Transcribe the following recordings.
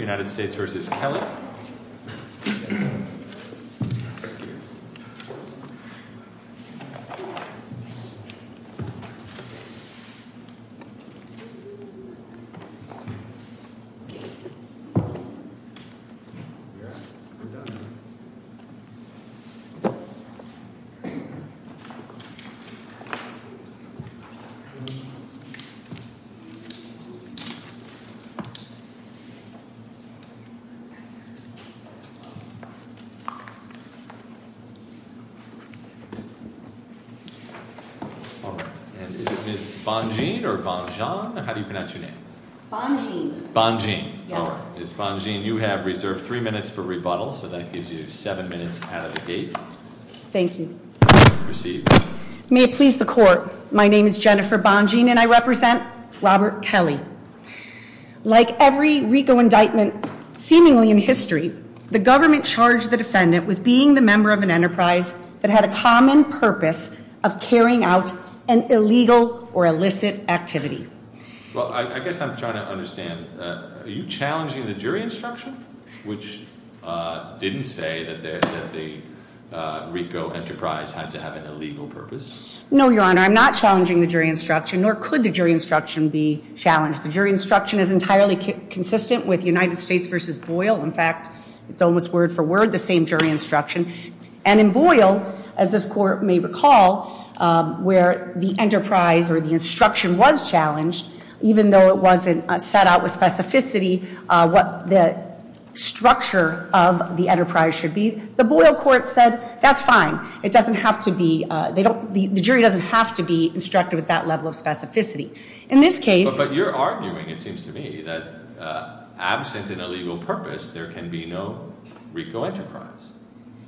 United States v. Kelly All right. And is it Ms. Bonjean or Bonjean? How do you pronounce your name? Bonjean. Bonjean. Yes. All right. Ms. Bonjean, you have reserved three minutes for rebuttal, so that gives you seven minutes out of the gate. Thank you. You may proceed. May it please the Court, my name is Jennifer Bonjean and I represent Robert Kelly. Like every RICO indictment seemingly in history, the government charged the defendant with being the member of an enterprise that had a common purpose of carrying out an illegal or illicit activity. Well, I guess I'm trying to understand, are you challenging the jury instruction, which didn't say that the RICO enterprise had to have an illegal purpose? No, Your Honor, I'm not challenging the jury instruction, nor could the jury instruction be challenged. The jury instruction is entirely consistent with United States v. Boyle. In fact, it's almost word for word the same jury instruction. And in Boyle, as this Court may recall, where the enterprise or the instruction was challenged, even though it wasn't set out with specificity what the structure of the enterprise should be, the Boyle court said, that's fine. It doesn't have to be, the jury doesn't have to be instructed with that level of specificity. In this case- But you're arguing, it seems to me, that absent an illegal purpose, there can be no RICO enterprise.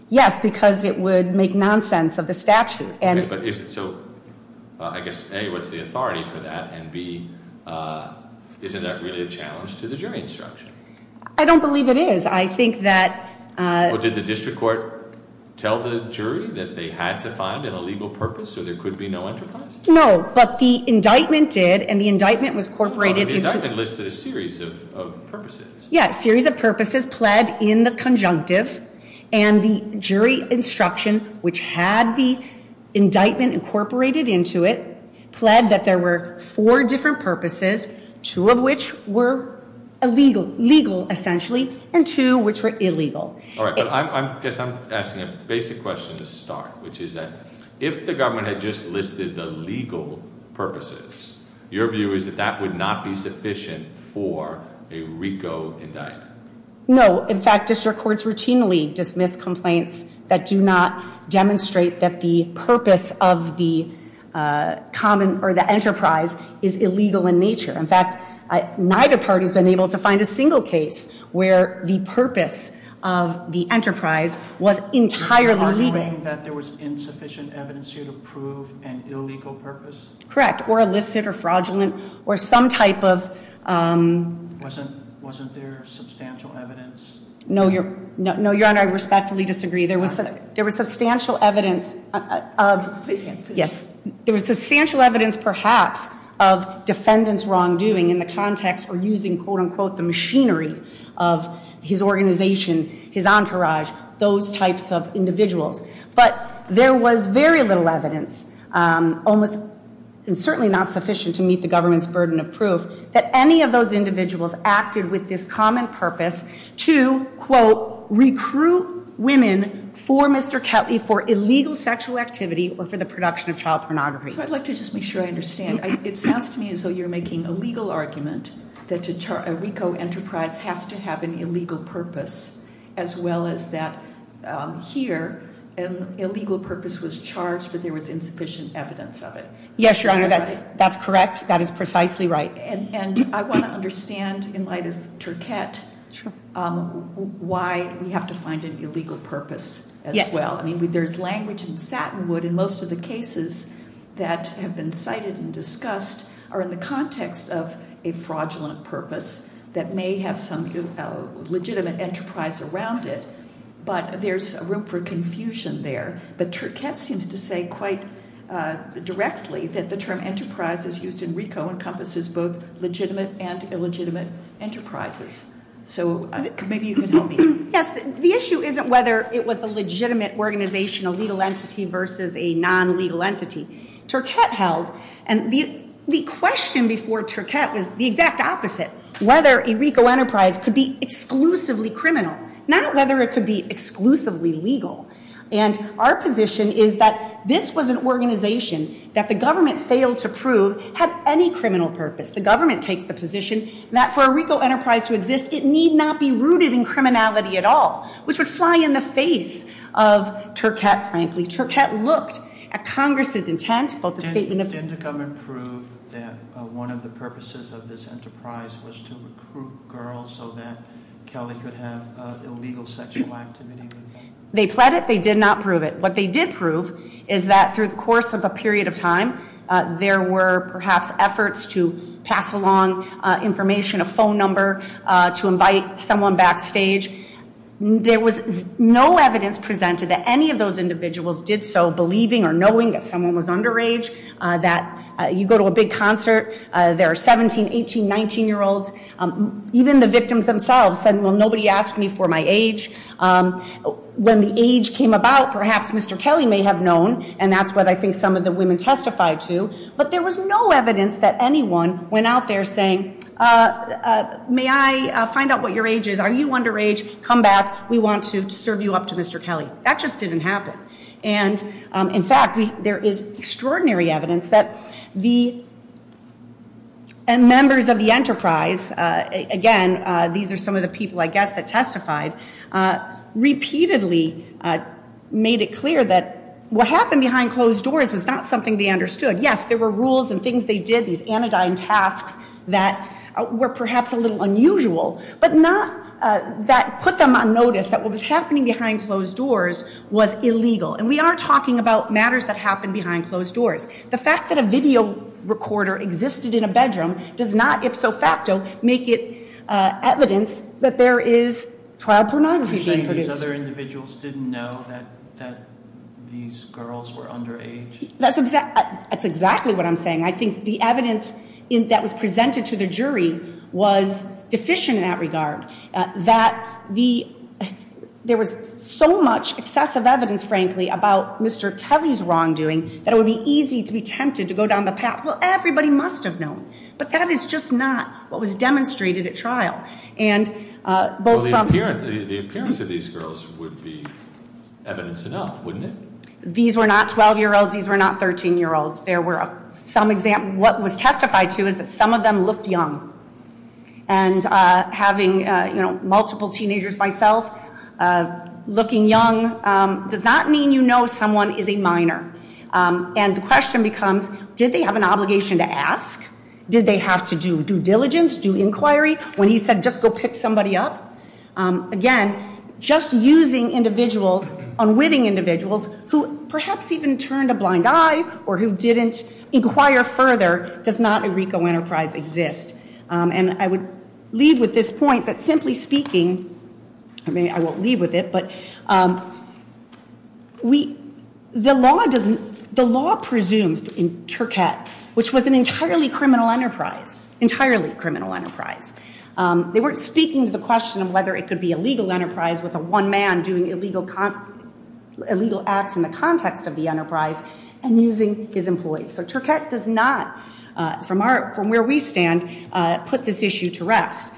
Yes, because it would make nonsense of the statute. Okay, but I guess, A, what's the authority for that? And B, isn't that really a challenge to the jury instruction? I don't believe it is. I think that- Well, did the district court tell the jury that they had to find an illegal purpose so there could be no enterprise? No, but the indictment did, and the indictment was incorporated into- But the indictment listed a series of purposes. Yes, a series of purposes pled in the conjunctive, and the jury instruction, which had the indictment incorporated into it, pled that there were four different purposes, two of which were illegal, legal essentially, and two which were illegal. All right, but I guess I'm asking a basic question to start, which is that if the government had just listed the legal purposes, your view is that that would not be sufficient for a RICO indictment. No, in fact, district courts routinely dismiss complaints that do not demonstrate that the purpose of the enterprise is illegal in nature. In fact, neither party has been able to find a single case where the purpose of the enterprise was entirely legal. Are you saying that there was insufficient evidence here to prove an illegal purpose? Correct, or illicit, or fraudulent, or some type of- Wasn't there substantial evidence? No, Your Honor, I respectfully disagree. There was substantial evidence of- Please hand it to me. Yes. There was substantial evidence, perhaps, of defendant's wrongdoing in the context of using, quote unquote, the machinery of his organization, his entourage, those types of individuals. But there was very little evidence, almost certainly not sufficient to meet the government's burden of proof, that any of those individuals acted with this common purpose to, quote, recruit women for Mr. Kelly for illegal sexual activity or for the production of child pornography. So I'd like to just make sure I understand. It sounds to me as though you're making a legal argument that a RICO enterprise has to have an illegal purpose, as well as that here, an illegal purpose was charged, but there was insufficient evidence of it. Yes, Your Honor, that's correct. That is precisely right. And I want to understand, in light of Turquette, why we have to find an illegal purpose as well. I mean, there's language in Satinwood in most of the cases that have been cited and discussed are in the context of a fraudulent purpose that may have some legitimate enterprise around it. But there's room for confusion there. But Turquette seems to say quite directly that the term enterprise, as used in RICO, encompasses both legitimate and illegitimate enterprises. So maybe you can help me. Yes, the issue isn't whether it was a legitimate organizational legal entity versus a non-legal entity. Turquette held, and the question before Turquette was the exact opposite, whether a RICO enterprise could be exclusively criminal, not whether it could be exclusively legal. And our position is that this was an organization that the government failed to prove had any criminal purpose. The government takes the position that for a RICO enterprise to exist, it need not be rooted in criminality at all, which would fly in the face of Turquette, frankly. Turquette looked at Congress' intent, both the statement of- And didn't the government prove that one of the purposes of this enterprise was to recruit girls so that Kelly could have illegal sexual activity with them? They pled it. They did not prove it. What they did prove is that through the course of a period of time, there were perhaps efforts to pass along information, a phone number, to invite someone backstage. There was no evidence presented that any of those individuals did so, believing or knowing that someone was underage, that you go to a big concert, there are 17-, 18-, 19-year-olds. Even the victims themselves said, well, nobody asked me for my age. When the age came about, perhaps Mr. Kelly may have known, and that's what I think some of the women testified to. But there was no evidence that anyone went out there saying, may I find out what your age is? Are you underage? Come back. We want to serve you up to Mr. Kelly. That just didn't happen. And, in fact, there is extraordinary evidence that the members of the enterprise, again, these are some of the people, I guess, that testified, repeatedly made it clear that what happened behind closed doors was not something they understood. Yes, there were rules and things they did, these anodyne tasks that were perhaps a little unusual, but not that put them on notice that what was happening behind closed doors was illegal. And we are talking about matters that happened behind closed doors. The fact that a video recorder existed in a bedroom does not ipso facto make it evidence that there is trial pornography being produced. You're saying these other individuals didn't know that these girls were underage? That's exactly what I'm saying. I think the evidence that was presented to the jury was deficient in that regard, that there was so much excessive evidence, frankly, about Mr. Kelly's wrongdoing, that it would be easy to be tempted to go down the path, well, everybody must have known. But that is just not what was demonstrated at trial. Well, the appearance of these girls would be evidence enough, wouldn't it? These were not 12-year-olds. These were not 13-year-olds. What was testified to is that some of them looked young. And having multiple teenagers myself, looking young, does not mean you know someone is a minor. And the question becomes, did they have an obligation to ask? Did they have to do due diligence, do inquiry, when he said just go pick somebody up? Again, just using individuals, unwitting individuals, who perhaps even turned a blind eye or who didn't inquire further, does not a RICO enterprise exist. And I would leave with this point that simply speaking, I mean, I won't leave with it, but the law presumes in Turcotte, which was an entirely criminal enterprise, entirely criminal enterprise, they weren't speaking to the question of whether it could be a legal enterprise with a one man doing illegal acts in the context of the enterprise and using his employees. So Turcotte does not, from where we stand, put this issue to rest.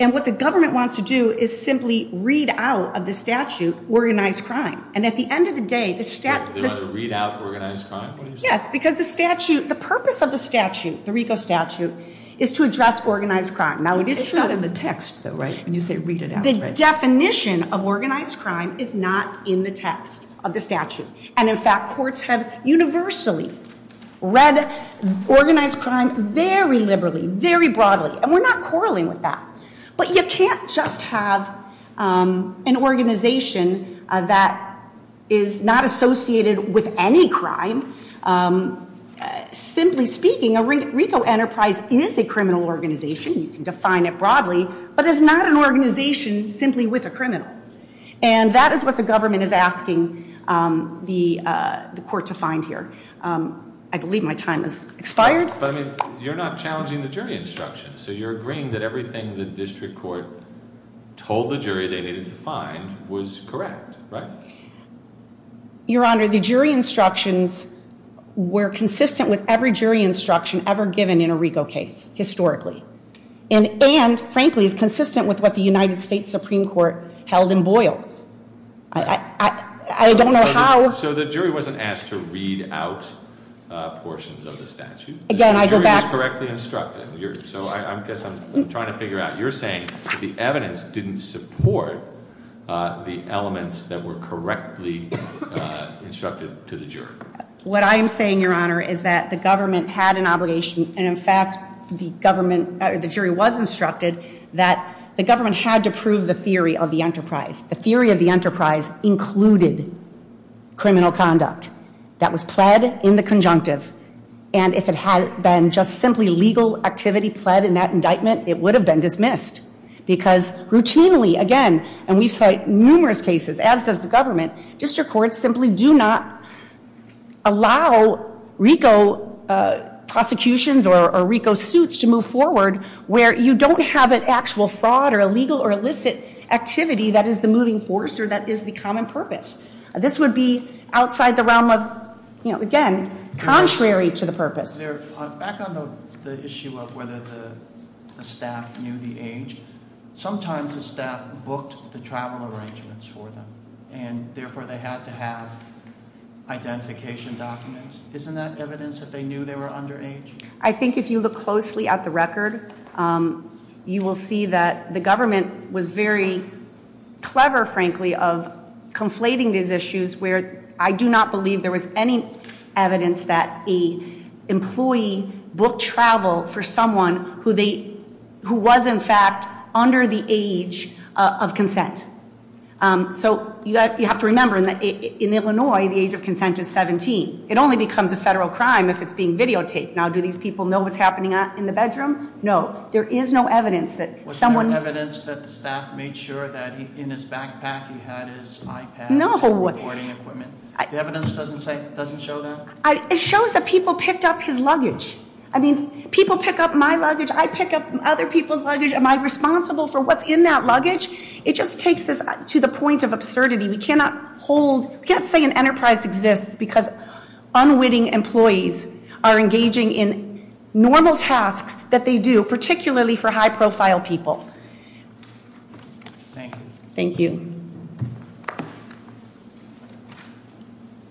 And what the government wants to do is simply read out of the statute organized crime. And at the end of the day, the statute- They want to read out organized crime? Yes, because the purpose of the statute, the RICO statute, is to address organized crime. It's not in the text, though, right, when you say read it out. And in fact, courts have universally read organized crime very liberally, very broadly. And we're not quarreling with that. But you can't just have an organization that is not associated with any crime. Simply speaking, a RICO enterprise is a criminal organization. You can define it broadly. But it's not an organization simply with a criminal. And that is what the government is asking the court to find here. I believe my time has expired. But you're not challenging the jury instructions. So you're agreeing that everything the district court told the jury they needed to find was correct, right? Your Honor, the jury instructions were consistent with every jury instruction ever given in a RICO case, historically. And frankly, it's consistent with what the United States Supreme Court held in Boyle. I don't know how- So the jury wasn't asked to read out portions of the statute. Again, I go back- The jury was correctly instructed. So I guess I'm trying to figure out. You're saying that the evidence didn't support the elements that were correctly instructed to the jury. What I am saying, Your Honor, is that the government had an obligation. And in fact, the jury was instructed that the government had to prove the theory of the enterprise. The theory of the enterprise included criminal conduct that was pled in the conjunctive. And if it had been just simply legal activity pled in that indictment, it would have been dismissed. Because routinely, again, and we cite numerous cases, as does the government, district courts simply do not allow RICO prosecutions or RICO suits to move forward where you don't have an actual fraud or illegal or illicit activity that is the moving force or that is the common purpose. This would be outside the realm of, again, contrary to the purpose. Back on the issue of whether the staff knew the age, sometimes the staff booked the travel arrangements for them. And therefore, they had to have identification documents. Isn't that evidence that they knew they were underage? I think if you look closely at the record, you will see that the government was very clever, frankly, of conflating these issues where I do not believe there was any evidence that the employee booked travel for someone who was, in fact, under the age of consent. So you have to remember, in Illinois, the age of consent is 17. It only becomes a federal crime if it's being videotaped. Now, do these people know what's happening in the bedroom? No. There is no evidence that someone- Was there evidence that the staff made sure that in his backpack he had his iPad- No. The evidence doesn't show that? It shows that people picked up his luggage. I mean, people pick up my luggage. I pick up other people's luggage. Am I responsible for what's in that luggage? It just takes this to the point of absurdity. We cannot say an enterprise exists because unwitting employees are engaging in normal tasks that they do, particularly for high-profile people. Thank you. Thank you.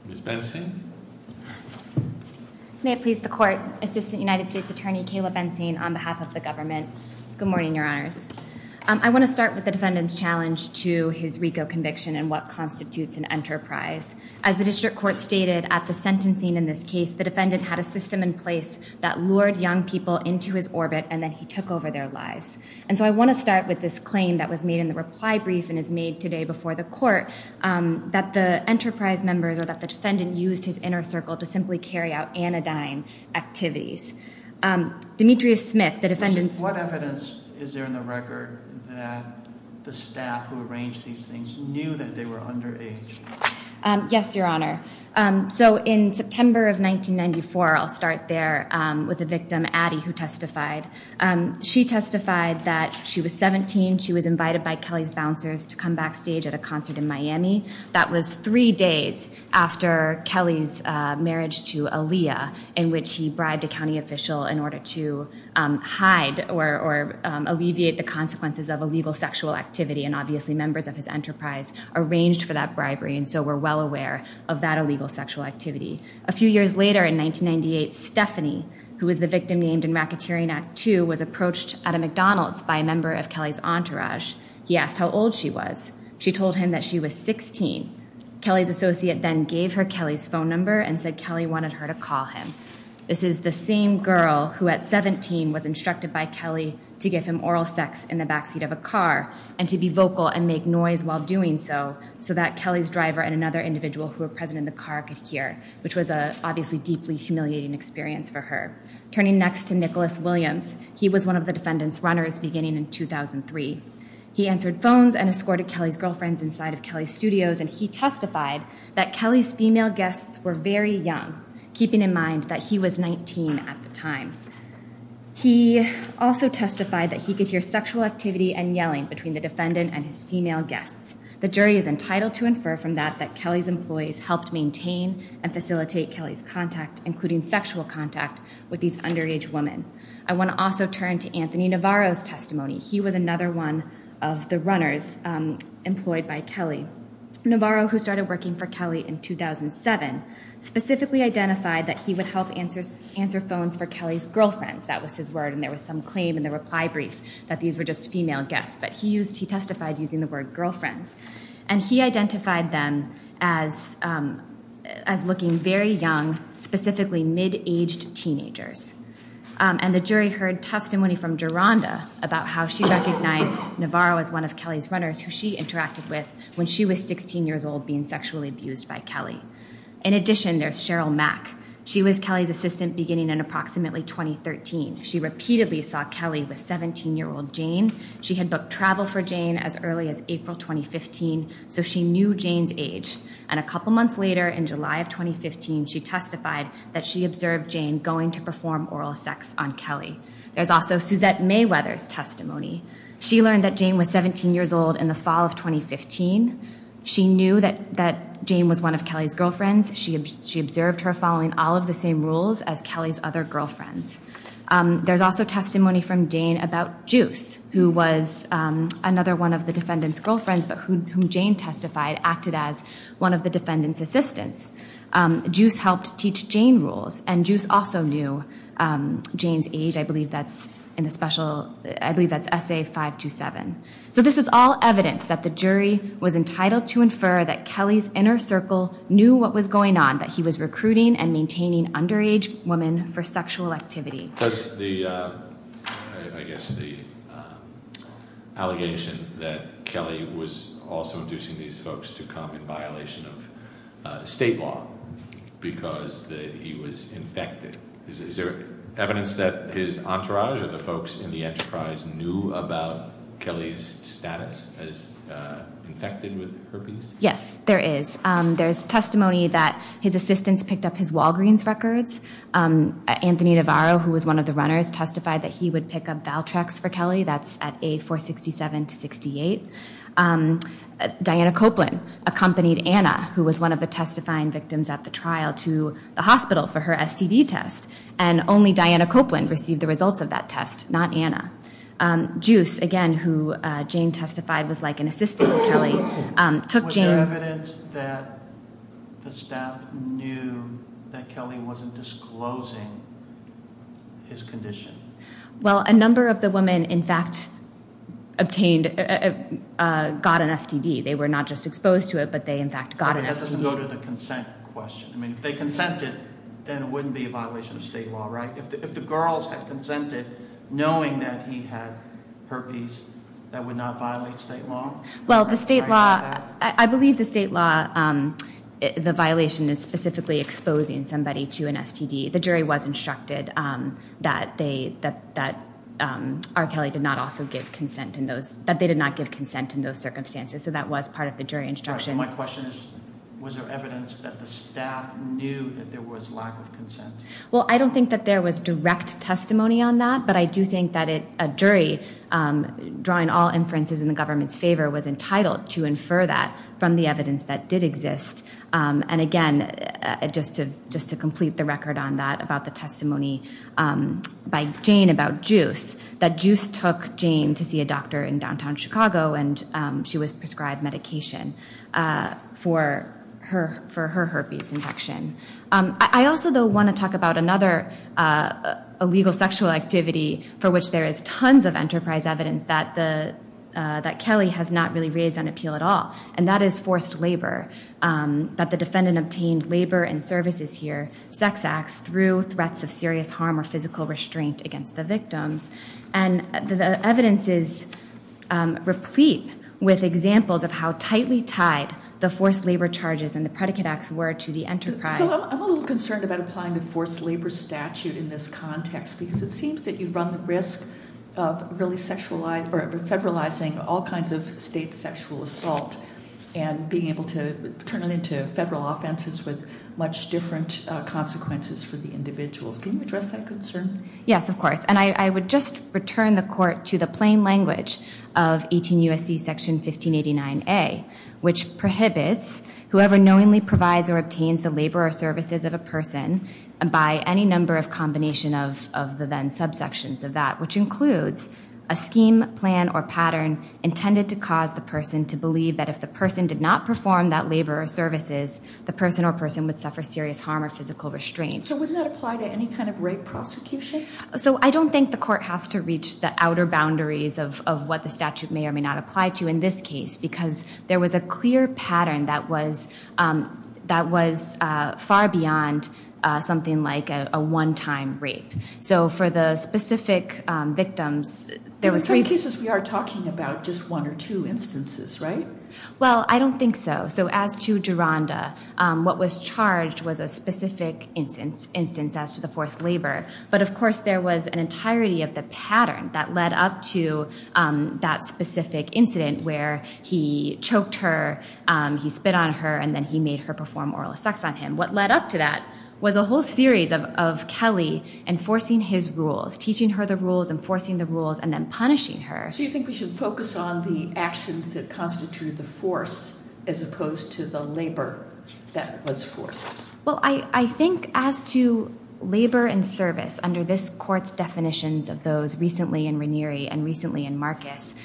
Ms. Bensing? May it please the Court. Assistant United States Attorney Kayla Bensing on behalf of the government. Good morning, Your Honors. I want to start with the defendant's challenge to his RICO conviction and what constitutes an enterprise. As the district court stated at the sentencing in this case, the defendant had a system in place that lured young people into his orbit, and then he took over their lives. And so I want to start with this claim that was made in the reply brief and is made today before the court, that the enterprise members or that the defendant used his inner circle to simply carry out anodyne activities. Demetrius Smith, the defendant's- What evidence is there in the record that the staff who arranged these things knew that they were underage? Yes, Your Honor. So in September of 1994, I'll start there with the victim, Addie, who testified. She testified that she was 17. She was invited by Kelly's bouncers to come backstage at a concert in Miami. That was three days after Kelly's marriage to Aaliyah, in which he bribed a county official in order to hide or alleviate the consequences of illegal sexual activity, and obviously members of his enterprise arranged for that bribery, and so were well aware of that illegal sexual activity. A few years later in 1998, Stephanie, who was the victim named in Racketeering Act II, was approached at a McDonald's by a member of Kelly's entourage. He asked how old she was. She told him that she was 16. Kelly's associate then gave her Kelly's phone number and said Kelly wanted her to call him. This is the same girl who at 17 was instructed by Kelly to give him oral sex in the backseat of a car and to be vocal and make noise while doing so, so that Kelly's driver and another individual who were present in the car could hear, which was obviously a deeply humiliating experience for her. Turning next to Nicholas Williams, he was one of the defendant's runners beginning in 2003. He answered phones and escorted Kelly's girlfriends inside of Kelly's studios, and he testified that Kelly's female guests were very young, keeping in mind that he was 19 at the time. He also testified that he could hear sexual activity and yelling between the defendant and his female guests. The jury is entitled to infer from that that Kelly's employees helped maintain and facilitate Kelly's contact, including sexual contact, with these underage women. I want to also turn to Anthony Navarro's testimony. He was another one of the runners employed by Kelly. Navarro, who started working for Kelly in 2007, specifically identified that he would help answer phones for Kelly's girlfriends. That was his word, and there was some claim in the reply brief that these were just female guests, but he testified using the word girlfriends. And he identified them as looking very young, specifically mid-aged teenagers. And the jury heard testimony from Duranda about how she recognized Navarro as one of Kelly's runners, who she interacted with when she was 16 years old being sexually abused by Kelly. In addition, there's Cheryl Mack. She was Kelly's assistant beginning in approximately 2013. She repeatedly saw Kelly with 17-year-old Jane. She had booked travel for Jane as early as April 2015, so she knew Jane's age. And a couple months later, in July of 2015, she testified that she observed Jane going to perform oral sex on Kelly. There's also Suzette Mayweather's testimony. She learned that Jane was 17 years old in the fall of 2015. She knew that Jane was one of Kelly's girlfriends. She observed her following all of the same rules as Kelly's other girlfriends. There's also testimony from Jane about Juice, who was another one of the defendant's girlfriends, but whom Jane testified acted as one of the defendant's assistants. Juice helped teach Jane rules, and Juice also knew Jane's age. I believe that's in the special, I believe that's Essay 527. So this is all evidence that the jury was entitled to infer that Kelly's inner circle knew what was going on, that he was recruiting and maintaining underage women for sexual activity. Does the, I guess the allegation that Kelly was also inducing these folks to come in violation of state law because he was infected, is there evidence that his entourage or the folks in the enterprise knew about Kelly's status as infected with herpes? Yes, there is. There's testimony that his assistants picked up his Walgreens records. Anthony Navarro, who was one of the runners, testified that he would pick up Valtrex for Kelly. That's at A467 to 68. Diana Copeland accompanied Anna, who was one of the testifying victims at the trial, to the hospital for her STD test, and only Diana Copeland received the results of that test, not Anna. Juice, again, who Jane testified was like an assistant to Kelly, took Jane. Was there evidence that the staff knew that Kelly wasn't disclosing his condition? Well, a number of the women, in fact, obtained, got an STD. They were not just exposed to it, but they, in fact, got an STD. That doesn't go to the consent question. I mean, if they consented, then it wouldn't be a violation of state law, right? If the girls had consented, knowing that he had herpes, that would not violate state law? Well, the state law, I believe the state law, the violation is specifically exposing somebody to an STD. The jury was instructed that R. Kelly did not also give consent in those, that they did not give consent in those circumstances, so that was part of the jury instructions. My question is, was there evidence that the staff knew that there was lack of consent? Well, I don't think that there was direct testimony on that, but I do think that a jury, drawing all inferences in the government's favor, was entitled to infer that from the evidence that did exist. And again, just to complete the record on that, about the testimony by Jane about Juice, that Juice took Jane to see a doctor in downtown Chicago, and she was prescribed medication for her herpes infection. I also, though, want to talk about another illegal sexual activity for which there is tons of enterprise evidence that Kelly has not really raised on appeal at all, and that is forced labor, that the defendant obtained labor and services here, sex acts, through threats of serious harm or physical restraint against the victims. And the evidence is replete with examples of how tightly tied the forced labor charges and the predicate acts were to the enterprise. So I'm a little concerned about applying the forced labor statute in this context, because it seems that you run the risk of really federalizing all kinds of state sexual assault and being able to turn it into federal offenses with much different consequences for the individuals. Can you address that concern? Yes, of course, and I would just return the court to the plain language of 18 U.S.C. Section 1589A, which prohibits whoever knowingly provides or obtains the labor or services of a person by any number of combination of the then subsections of that, which includes a scheme, plan, or pattern intended to cause the person to believe that if the person did not perform that labor or services, the person or person would suffer serious harm or physical restraint. So wouldn't that apply to any kind of rape prosecution? So I don't think the court has to reach the outer boundaries of what the statute may or may not apply to in this case, because there was a clear pattern that was far beyond something like a one-time rape. So for the specific victims, there were three cases. In some cases we are talking about just one or two instances, right? Well, I don't think so. So as to Duranda, what was charged was a specific instance as to the forced labor. But, of course, there was an entirety of the pattern that led up to that specific incident where he choked her, he spit on her, and then he made her perform oral sex on him. What led up to that was a whole series of Kelly enforcing his rules, teaching her the rules, enforcing the rules, and then punishing her. So you think we should focus on the actions that constituted the force as opposed to the labor that was forced? Well, I think as to labor and service under this court's definitions of those and recently in Marcus,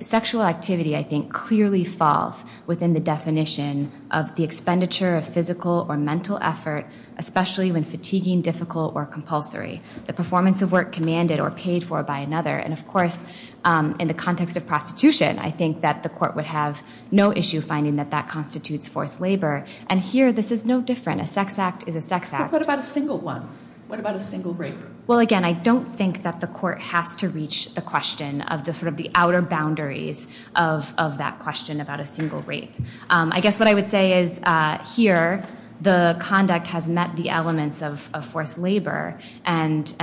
sexual activity, I think, clearly falls within the definition of the expenditure of physical or mental effort, especially when fatiguing, difficult, or compulsory. The performance of work commanded or paid for by another. And, of course, in the context of prostitution, I think that the court would have no issue finding that that constitutes forced labor. And here this is no different. A sex act is a sex act. But what about a single one? What about a single rape? Well, again, I don't think that the court has to reach the question of sort of the outer boundaries of that question about a single rape. I guess what I would say is here the conduct has met the elements of forced labor, and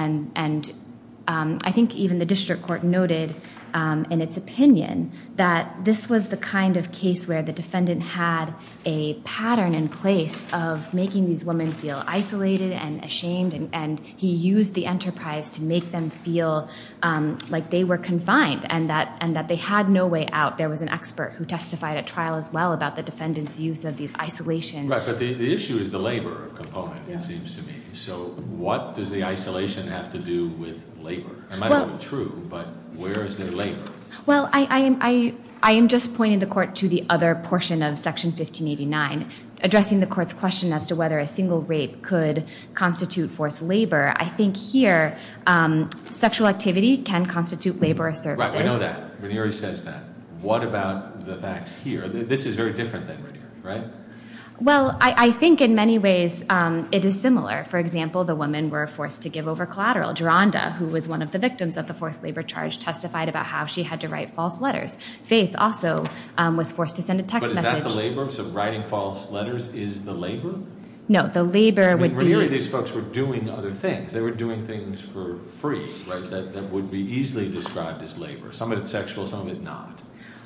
I think even the district court noted in its opinion that this was the kind of case where the defendant had a pattern in place of making these women feel isolated and ashamed, and he used the enterprise to make them feel like they were confined and that they had no way out. There was an expert who testified at trial as well about the defendant's use of these isolations. Right, but the issue is the labor component, it seems to me. So what does the isolation have to do with labor? It might not be true, but where is there labor? Well, I am just pointing the court to the other portion of Section 1589, addressing the court's question as to whether a single rape could constitute forced labor. I think here sexual activity can constitute labor or services. Right, I know that. Ranieri says that. What about the facts here? This is very different than Ranieri, right? Well, I think in many ways it is similar. For example, the women were forced to give over collateral. Geronda, who was one of the victims of the forced labor charge, testified about how she had to write false letters. Faith also was forced to send a text message. Is that the labor? So writing false letters is the labor? No, the labor would be. Ranieri and these folks were doing other things. They were doing things for free that would be easily described as labor. Some of it sexual, some of it not.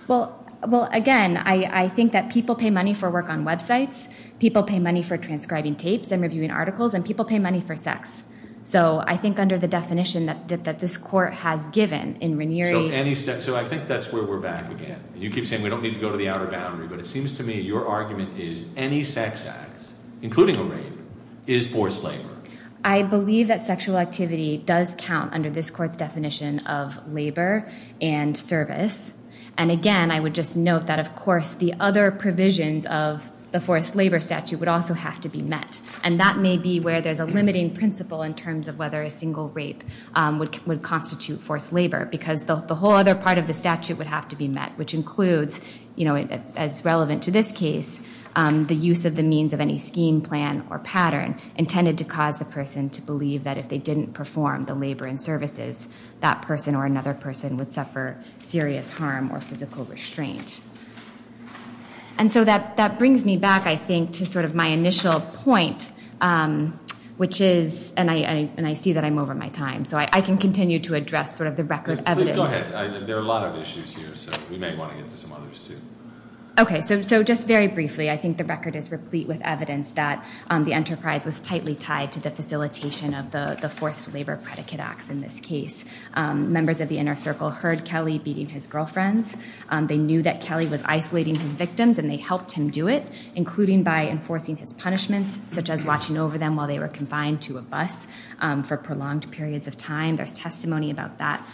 Well, again, I think that people pay money for work on websites, people pay money for transcribing tapes and reviewing articles, and people pay money for sex. So I think under the definition that this court has given in Ranieri. So I think that's where we're back again. You keep saying we don't need to go to the outer boundary, but it seems to me your argument is any sex act, including a rape, is forced labor. I believe that sexual activity does count under this court's definition of labor and service. And, again, I would just note that, of course, the other provisions of the forced labor statute would also have to be met. And that may be where there's a limiting principle in terms of whether a single rape would constitute forced labor because the whole other part of the statute would have to be met, which includes, as relevant to this case, the use of the means of any scheme, plan, or pattern intended to cause the person to believe that if they didn't perform the labor and services, that person or another person would suffer serious harm or physical restraint. And so that brings me back, I think, to sort of my initial point, which is, and I see that I'm over my time, so I can continue to address sort of the record evidence. Go ahead. There are a lot of issues here, so we may want to get to some others, too. Okay, so just very briefly, I think the record is replete with evidence that the enterprise was tightly tied to the facilitation of the forced labor predicate acts in this case. Members of the inner circle heard Kelly beating his girlfriends. They knew that Kelly was isolating his victims, and they helped him do it, including by enforcing his punishments, such as watching over them while they were confined to a bus for prolonged periods of time. There's testimony about that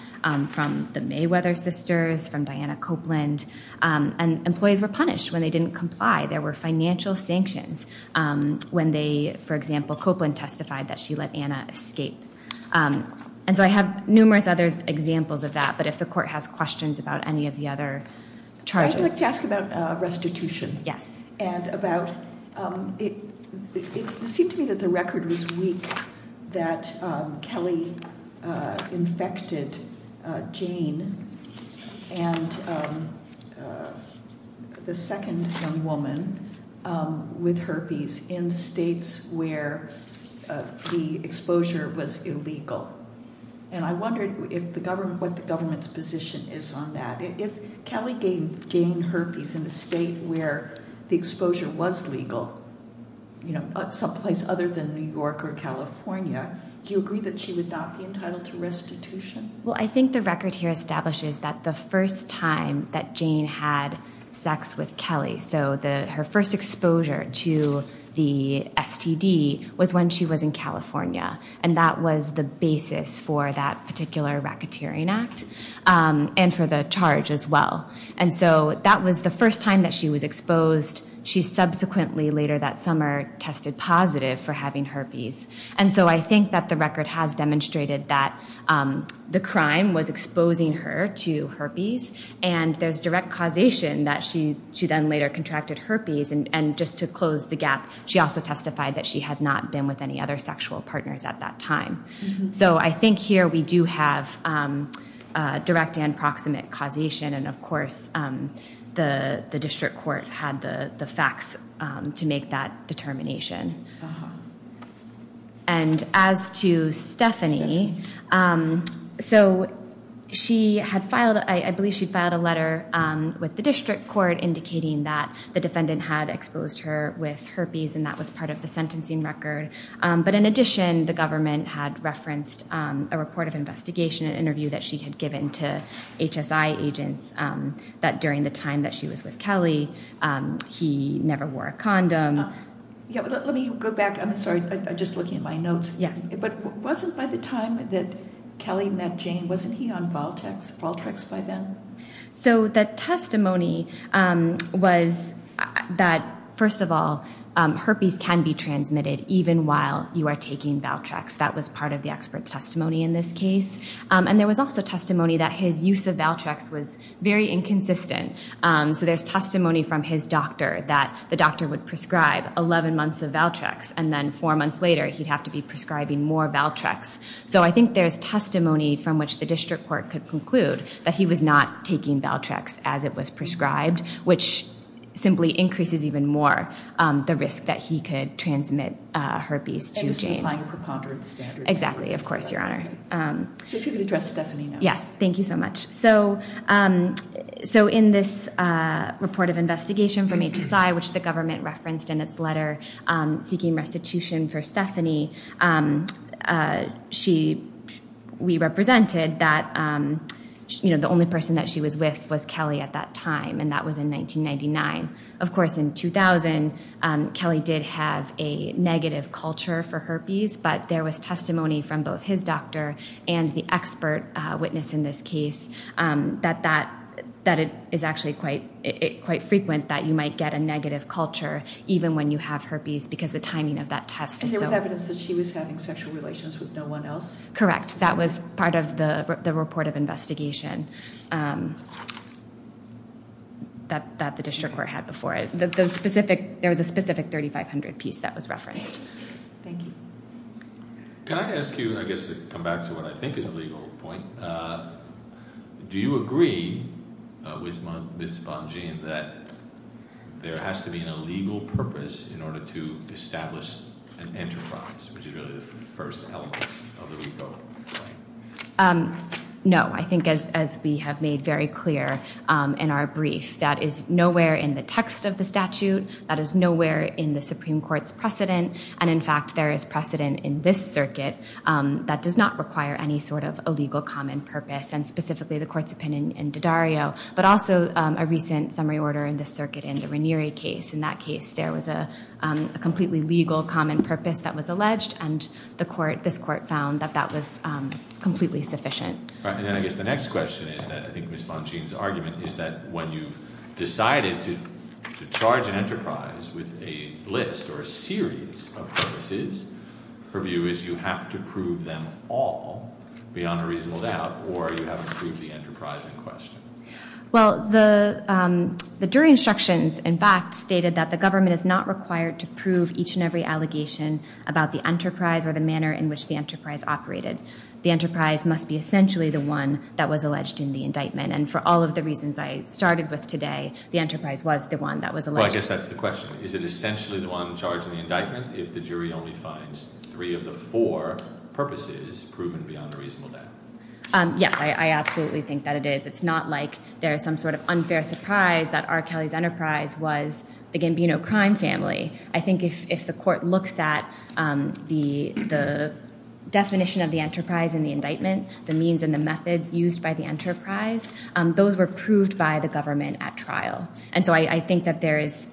from the Mayweather sisters, from Diana Copeland. And employees were punished when they didn't comply. There were financial sanctions when they, for example, Copeland testified that she let Anna escape. And so I have numerous other examples of that, but if the court has questions about any of the other charges. I'd like to ask about restitution. Yes. And about it seemed to me that the record was weak that Kelly infected Jane and the second young woman with herpes in states where the exposure was illegal. And I wondered what the government's position is on that. If Kelly gained herpes in a state where the exposure was legal, someplace other than New York or California, do you agree that she would not be entitled to restitution? Well, I think the record here establishes that the first time that Jane had sex with Kelly, so her first exposure to the STD was when she was in California. And that was the basis for that particular racketeering act and for the charge as well. And so that was the first time that she was exposed. She subsequently, later that summer, tested positive for having herpes. And so I think that the record has demonstrated that the crime was exposing her to herpes, and there's direct causation that she then later contracted herpes. And just to close the gap, she also testified that she had not been with any other sexual partners at that time. So I think here we do have direct and proximate causation, and, of course, the district court had the facts to make that determination. And as to Stephanie, so she had filed a letter with the district court indicating that the defendant had exposed her with herpes, and that was part of the sentencing record. But in addition, the government had referenced a report of investigation, an interview that she had given to HSI agents that during the time that she was with Kelly, he never wore a condom. Let me go back. I'm sorry. I'm just looking at my notes. Yes. But wasn't by the time that Kelly met Jane, wasn't he on Valtrex by then? So the testimony was that, first of all, herpes can be transmitted even while you are taking Valtrex. That was part of the expert's testimony in this case. And there was also testimony that his use of Valtrex was very inconsistent. So there's testimony from his doctor that the doctor would prescribe 11 months of Valtrex, and then four months later he'd have to be prescribing more Valtrex. So I think there's testimony from which the district court could conclude that he was not taking Valtrex as it was prescribed, which simply increases even more the risk that he could transmit herpes to Jane. And this is applying a preponderance standard. Exactly. Of course, Your Honor. So if you could address Stephanie now. Yes. Thank you so much. So in this report of investigation from HSI, which the government referenced in its letter seeking restitution for Stephanie, we represented that the only person that she was with was Kelly at that time, and that was in 1999. Of course, in 2000, Kelly did have a negative culture for herpes, but there was testimony from both his doctor and the expert witness in this case that it is actually quite frequent that you might get a negative culture even when you have herpes So that was evidence that she was having sexual relations with no one else? Correct. That was part of the report of investigation that the district court had before it. There was a specific 3500 piece that was referenced. Thank you. Can I ask you, I guess to come back to what I think is a legal point, do you agree with Ms. Bongean that there has to be a legal purpose in order to establish an enterprise, which is really the first element of the RICO claim? No. I think as we have made very clear in our brief, that is nowhere in the text of the statute, that is nowhere in the Supreme Court's precedent, and in fact there is precedent in this circuit that does not require any sort of a legal common purpose, and specifically the court's opinion in D'Addario, but also a recent summary order in this circuit in the Ranieri case. In that case, there was a completely legal common purpose that was alleged, and this court found that that was completely sufficient. And then I guess the next question is that I think Ms. Bongean's argument is that when you've decided to charge an enterprise with a list or a series of purposes, her view is you have to prove them all beyond a reasonable doubt, or you have to prove the enterprise in question. Well, the jury instructions, in fact, stated that the government is not required to prove each and every allegation about the enterprise or the manner in which the enterprise operated. The enterprise must be essentially the one that was alleged in the indictment, and for all of the reasons I started with today, the enterprise was the one that was alleged. Well, I guess that's the question. Is it essentially the one charged in the indictment if the jury only finds three of the four purposes proven beyond a reasonable doubt? Yes, I absolutely think that it is. It's not like there is some sort of unfair surprise that R. Kelly's enterprise was the Gambino crime family. I think if the court looks at the definition of the enterprise in the indictment, the means and the methods used by the enterprise, those were proved by the government at trial. And so I think that there is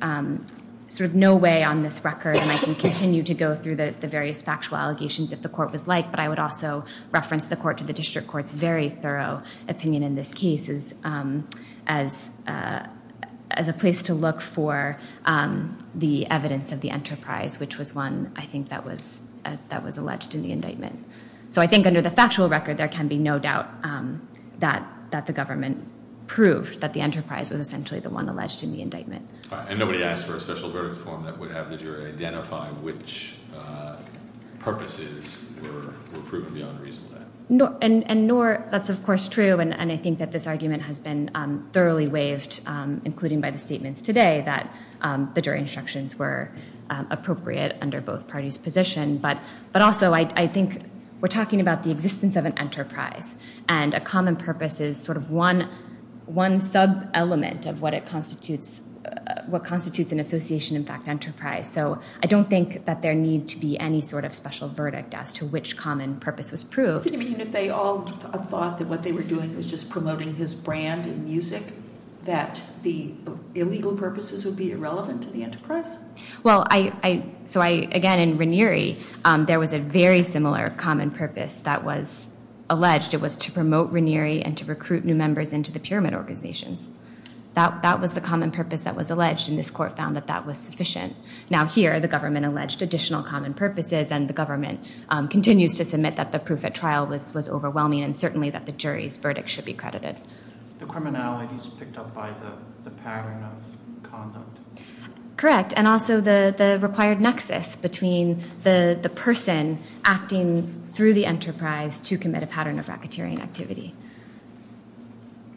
sort of no way on this record, and I can continue to go through the various factual allegations if the court was like, but I would also reference the court to the district court's very thorough opinion in this case as a place to look for the evidence of the enterprise, which was one, I think, that was alleged in the indictment. So I think under the factual record, there can be no doubt that the government proved that the enterprise was essentially the one alleged in the indictment. And nobody asked for a special verdict form that would have the jury identify which purposes were proven beyond a reasonable doubt. And nor, that's of course true, and I think that this argument has been thoroughly waived, including by the statements today, that the jury instructions were appropriate under both parties' position. But also, I think we're talking about the existence of an enterprise, and a common purpose is sort of one sub-element of what constitutes an association, in fact, enterprise. So I don't think that there need to be any sort of special verdict as to which common purpose was proved. Do you mean if they all thought that what they were doing was just promoting his brand in music, that the illegal purposes would be irrelevant to the enterprise? Well, so again, in Ranieri, there was a very similar common purpose that was alleged. It was to promote Ranieri and to recruit new members into the pyramid organizations. That was the common purpose that was alleged, and this court found that that was sufficient. Now here, the government alleged additional common purposes, and the government continues to submit that the proof at trial was overwhelming, and certainly that the jury's verdict should be credited. The criminality is picked up by the pattern of conduct. Correct, and also the required nexus between the person acting through the enterprise to commit a pattern of racketeering activity.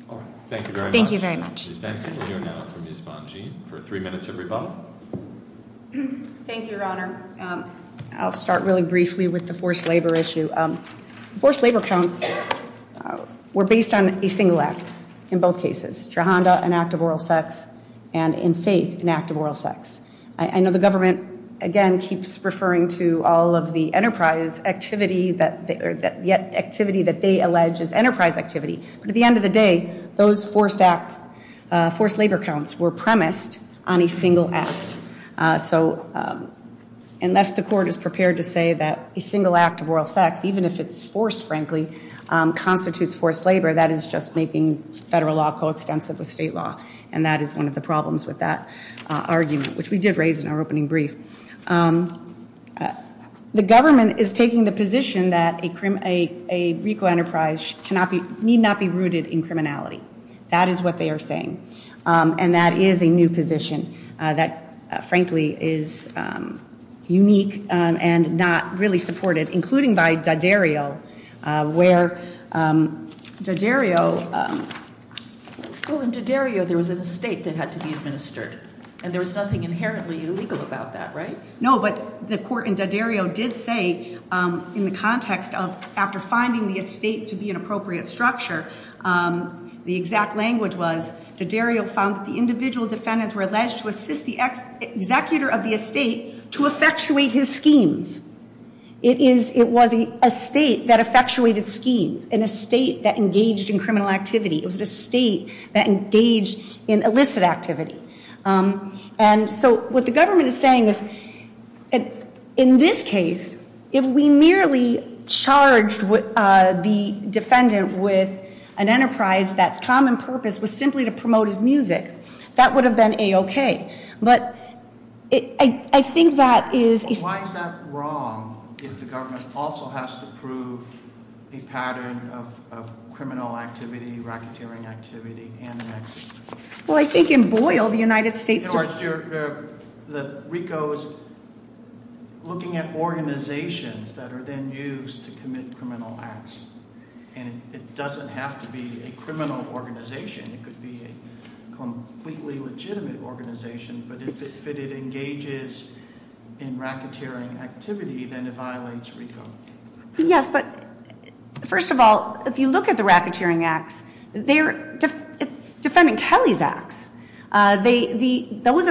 All right, thank you very much. Thank you very much. Ms. Benson, we'll hear now from Ms. Bongean for three minutes of rebuttal. Thank you, Your Honor. I'll start really briefly with the forced labor issue. Forced labor counts were based on a single act in both cases, Jahanda, an act of oral sex, and in Faith, an act of oral sex. I know the government, again, keeps referring to all of the enterprise activity or the activity that they allege is enterprise activity, but at the end of the day, those forced labor counts were premised on a single act. So unless the court is prepared to say that a single act of oral sex, even if it's forced, frankly, constitutes forced labor, that is just making federal law coextensive with state law, and that is one of the problems with that argument, which we did raise in our opening brief. The government is taking the position that a RICO enterprise need not be rooted in criminality. That is what they are saying, and that is a new position that, frankly, is unique and not really supported, including by Daddario, where Daddario – Well, in Daddario, there was an estate that had to be administered, and there was nothing inherently illegal about that, right? No, but the court in Daddario did say in the context of after finding the estate to be an appropriate structure, the exact language was Daddario found that the individual defendants were alleged to assist the executor of the estate to effectuate his schemes. It was an estate that effectuated schemes, an estate that engaged in criminal activity. It was an estate that engaged in illicit activity. And so what the government is saying is, in this case, if we merely charged the defendant with an enterprise that's common purpose was simply to promote his music, that would have been A-OK. But I think that is – Why is that wrong if the government also has to prove a pattern of criminal activity, racketeering activity, and the next? Well, I think in Boyle, the United States – In other words, RICO is looking at organizations that are then used to commit criminal acts, and it doesn't have to be a criminal organization. It could be a completely legitimate organization, but if it engages in racketeering activity, then it violates RICO. Yes, but first of all, if you look at the racketeering acts, it's defendant Kelly's acts. Those are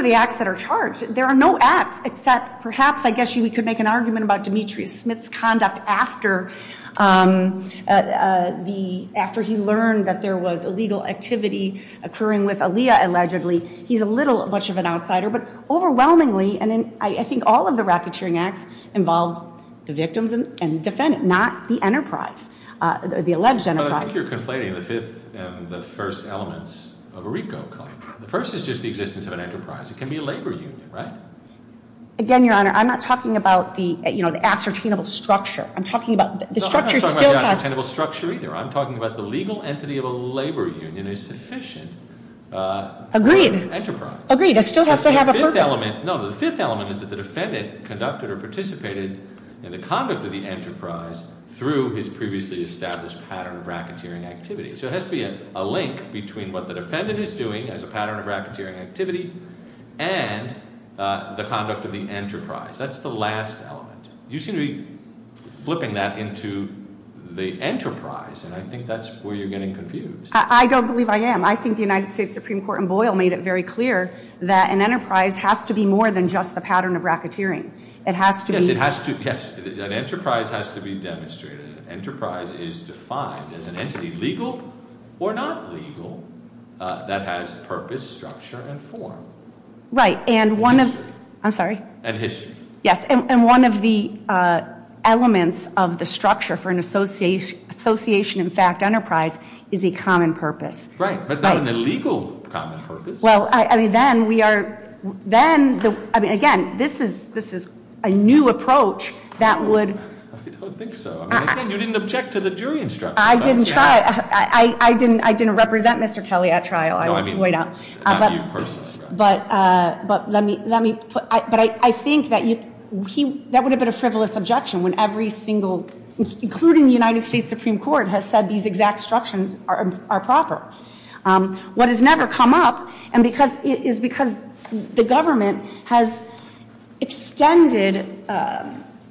the acts that are charged. There are no acts except perhaps I guess we could make an argument about Demetrius Smith's conduct after he learned that there was illegal activity occurring with Aaliyah allegedly. He's a little much of an outsider, but overwhelmingly, and I think all of the racketeering acts involved the victims and the defendant, not the enterprise, the alleged enterprise. But I think you're conflating the fifth and the first elements of a RICO claim. The first is just the existence of an enterprise. It can be a labor union, right? Again, Your Honor, I'm not talking about the ascertainable structure. I'm talking about the structure still has- No, I'm not talking about the ascertainable structure either. I'm talking about the legal entity of a labor union is sufficient for an enterprise. Agreed. Agreed. It still has to have a purpose. No, the fifth element is that the defendant conducted or participated in the conduct of the enterprise through his previously established pattern of racketeering activity. So it has to be a link between what the defendant is doing as a pattern of racketeering activity and the conduct of the enterprise. That's the last element. You seem to be flipping that into the enterprise, and I think that's where you're getting confused. I don't believe I am. I think the United States Supreme Court in Boyle made it very clear that an enterprise has to be more than just the pattern of racketeering. It has to be- Yes, an enterprise has to be demonstrated. An enterprise is defined as an entity, legal or not legal, that has purpose, structure, and form. Right, and one of- And history. I'm sorry? And history. Yes, and one of the elements of the structure for an association-in-fact enterprise is a common purpose. Right, but not an illegal common purpose. Well, I mean, then we are- then- I mean, again, this is a new approach that would- I don't think so. Again, you didn't object to the jury instruction. I didn't try- I didn't represent Mr. Kelly at trial. No, I mean- Not you personally. But let me put- but I think that would have been a frivolous objection when every single- including the United States Supreme Court has said these exact instructions are proper. What has never come up is because the government has extended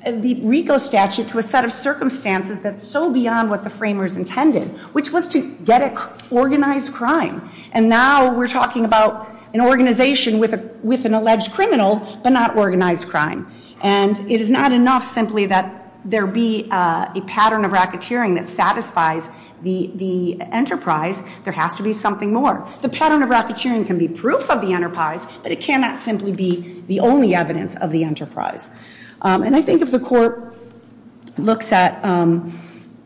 the RICO statute to a set of circumstances that's so beyond what the framers intended, which was to get organized crime. And now we're talking about an organization with an alleged criminal, but not organized crime. And it is not enough simply that there be a pattern of racketeering that satisfies the enterprise. There has to be something more. The pattern of racketeering can be proof of the enterprise, but it cannot simply be the only evidence of the enterprise. And I think if the court looks at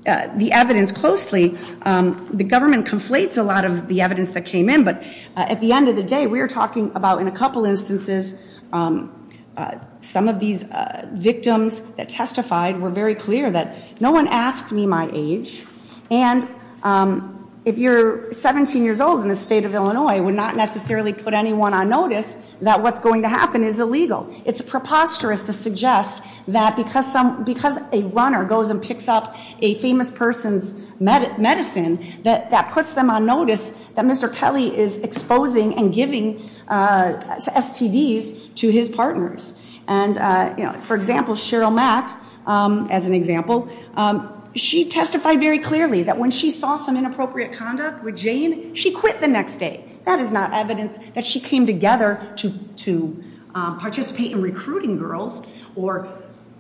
the evidence closely, the government conflates a lot of the evidence that came in. But at the end of the day, we are talking about, in a couple instances, some of these victims that testified were very clear that no one asked me my age. And if you're 17 years old in the state of Illinois, it would not necessarily put anyone on notice that what's going to happen is illegal. It's preposterous to suggest that because a runner goes and picks up a famous person's medicine, that puts them on notice that Mr. Kelly is exposing and giving STDs to his partners. And for example, Cheryl Mack, as an example, she testified very clearly that when she saw some inappropriate conduct with Jane, she quit the next day. That is not evidence that she came together to participate in recruiting girls or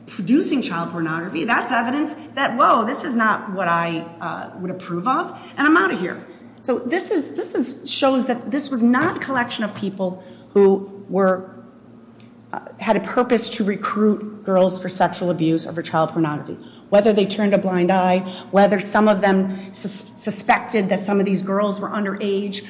producing child pornography. That's evidence that, whoa, this is not what I would approve of, and I'm out of here. So this shows that this was not a collection of people who had a purpose to recruit girls for sexual abuse or for child pornography. Whether they turned a blind eye, whether some of them suspected that some of these girls were underage,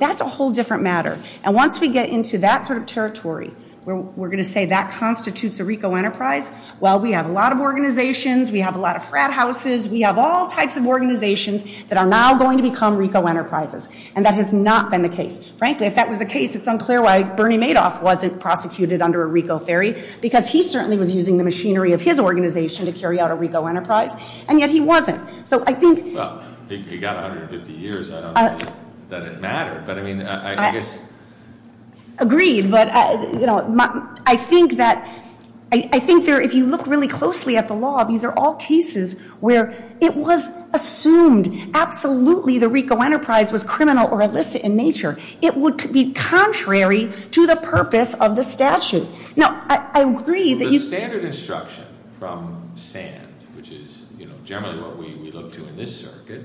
that's a whole different matter. And once we get into that sort of territory, where we're going to say that constitutes a RICO enterprise, well, we have a lot of organizations, we have a lot of frat houses, we have all types of organizations that are now going to become RICO enterprises. And that has not been the case. Frankly, if that was the case, it's unclear why Bernie Madoff wasn't prosecuted under a RICO theory, because he certainly was using the machinery of his organization to carry out a RICO enterprise, and yet he wasn't. So I think- Well, he got 150 years. I don't think that it mattered, but I mean, I guess- Agreed, but I think that if you look really closely at the law, these are all cases where it was assumed absolutely the RICO enterprise was criminal or illicit in nature. It would be contrary to the purpose of the statute. Now, I agree that you- The standard instruction from SAND, which is generally what we look to in this circuit,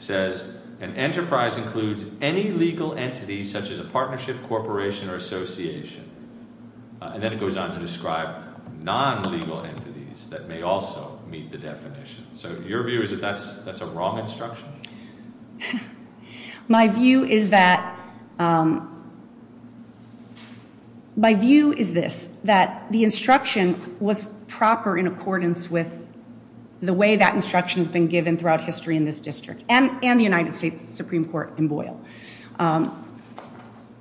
says, an enterprise includes any legal entity such as a partnership, corporation, or association. And then it goes on to describe non-legal entities that may also meet the definition. So your view is that that's a wrong instruction? My view is that- My view is this, that the instruction was proper in accordance with the way that instruction has been given throughout history in this district, and the United States Supreme Court in Boyle.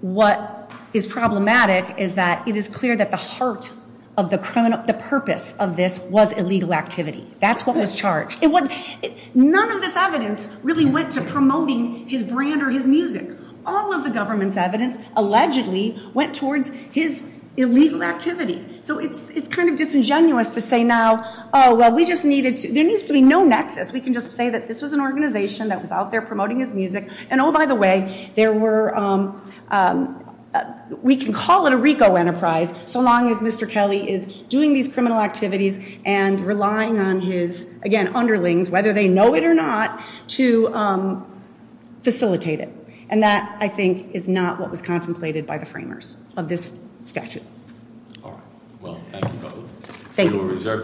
What is problematic is that it is clear that the heart of the criminal- the purpose of this was illegal activity. That's what was charged. None of this evidence really went to promoting his brand or his music. All of the government's evidence allegedly went towards his illegal activity. So it's kind of disingenuous to say now, oh, well, we just needed to- There needs to be no nexus. We can just say that this was an organization that was out there promoting his music. And oh, by the way, there were- We can call it a RICO enterprise so long as Mr. Kelly is doing these criminal activities and relying on his, again, underlings, whether they know it or not, to facilitate it. And that, I think, is not what was contemplated by the framers of this statute. All right. Well, thank you both. Thank you. To a reserved decision.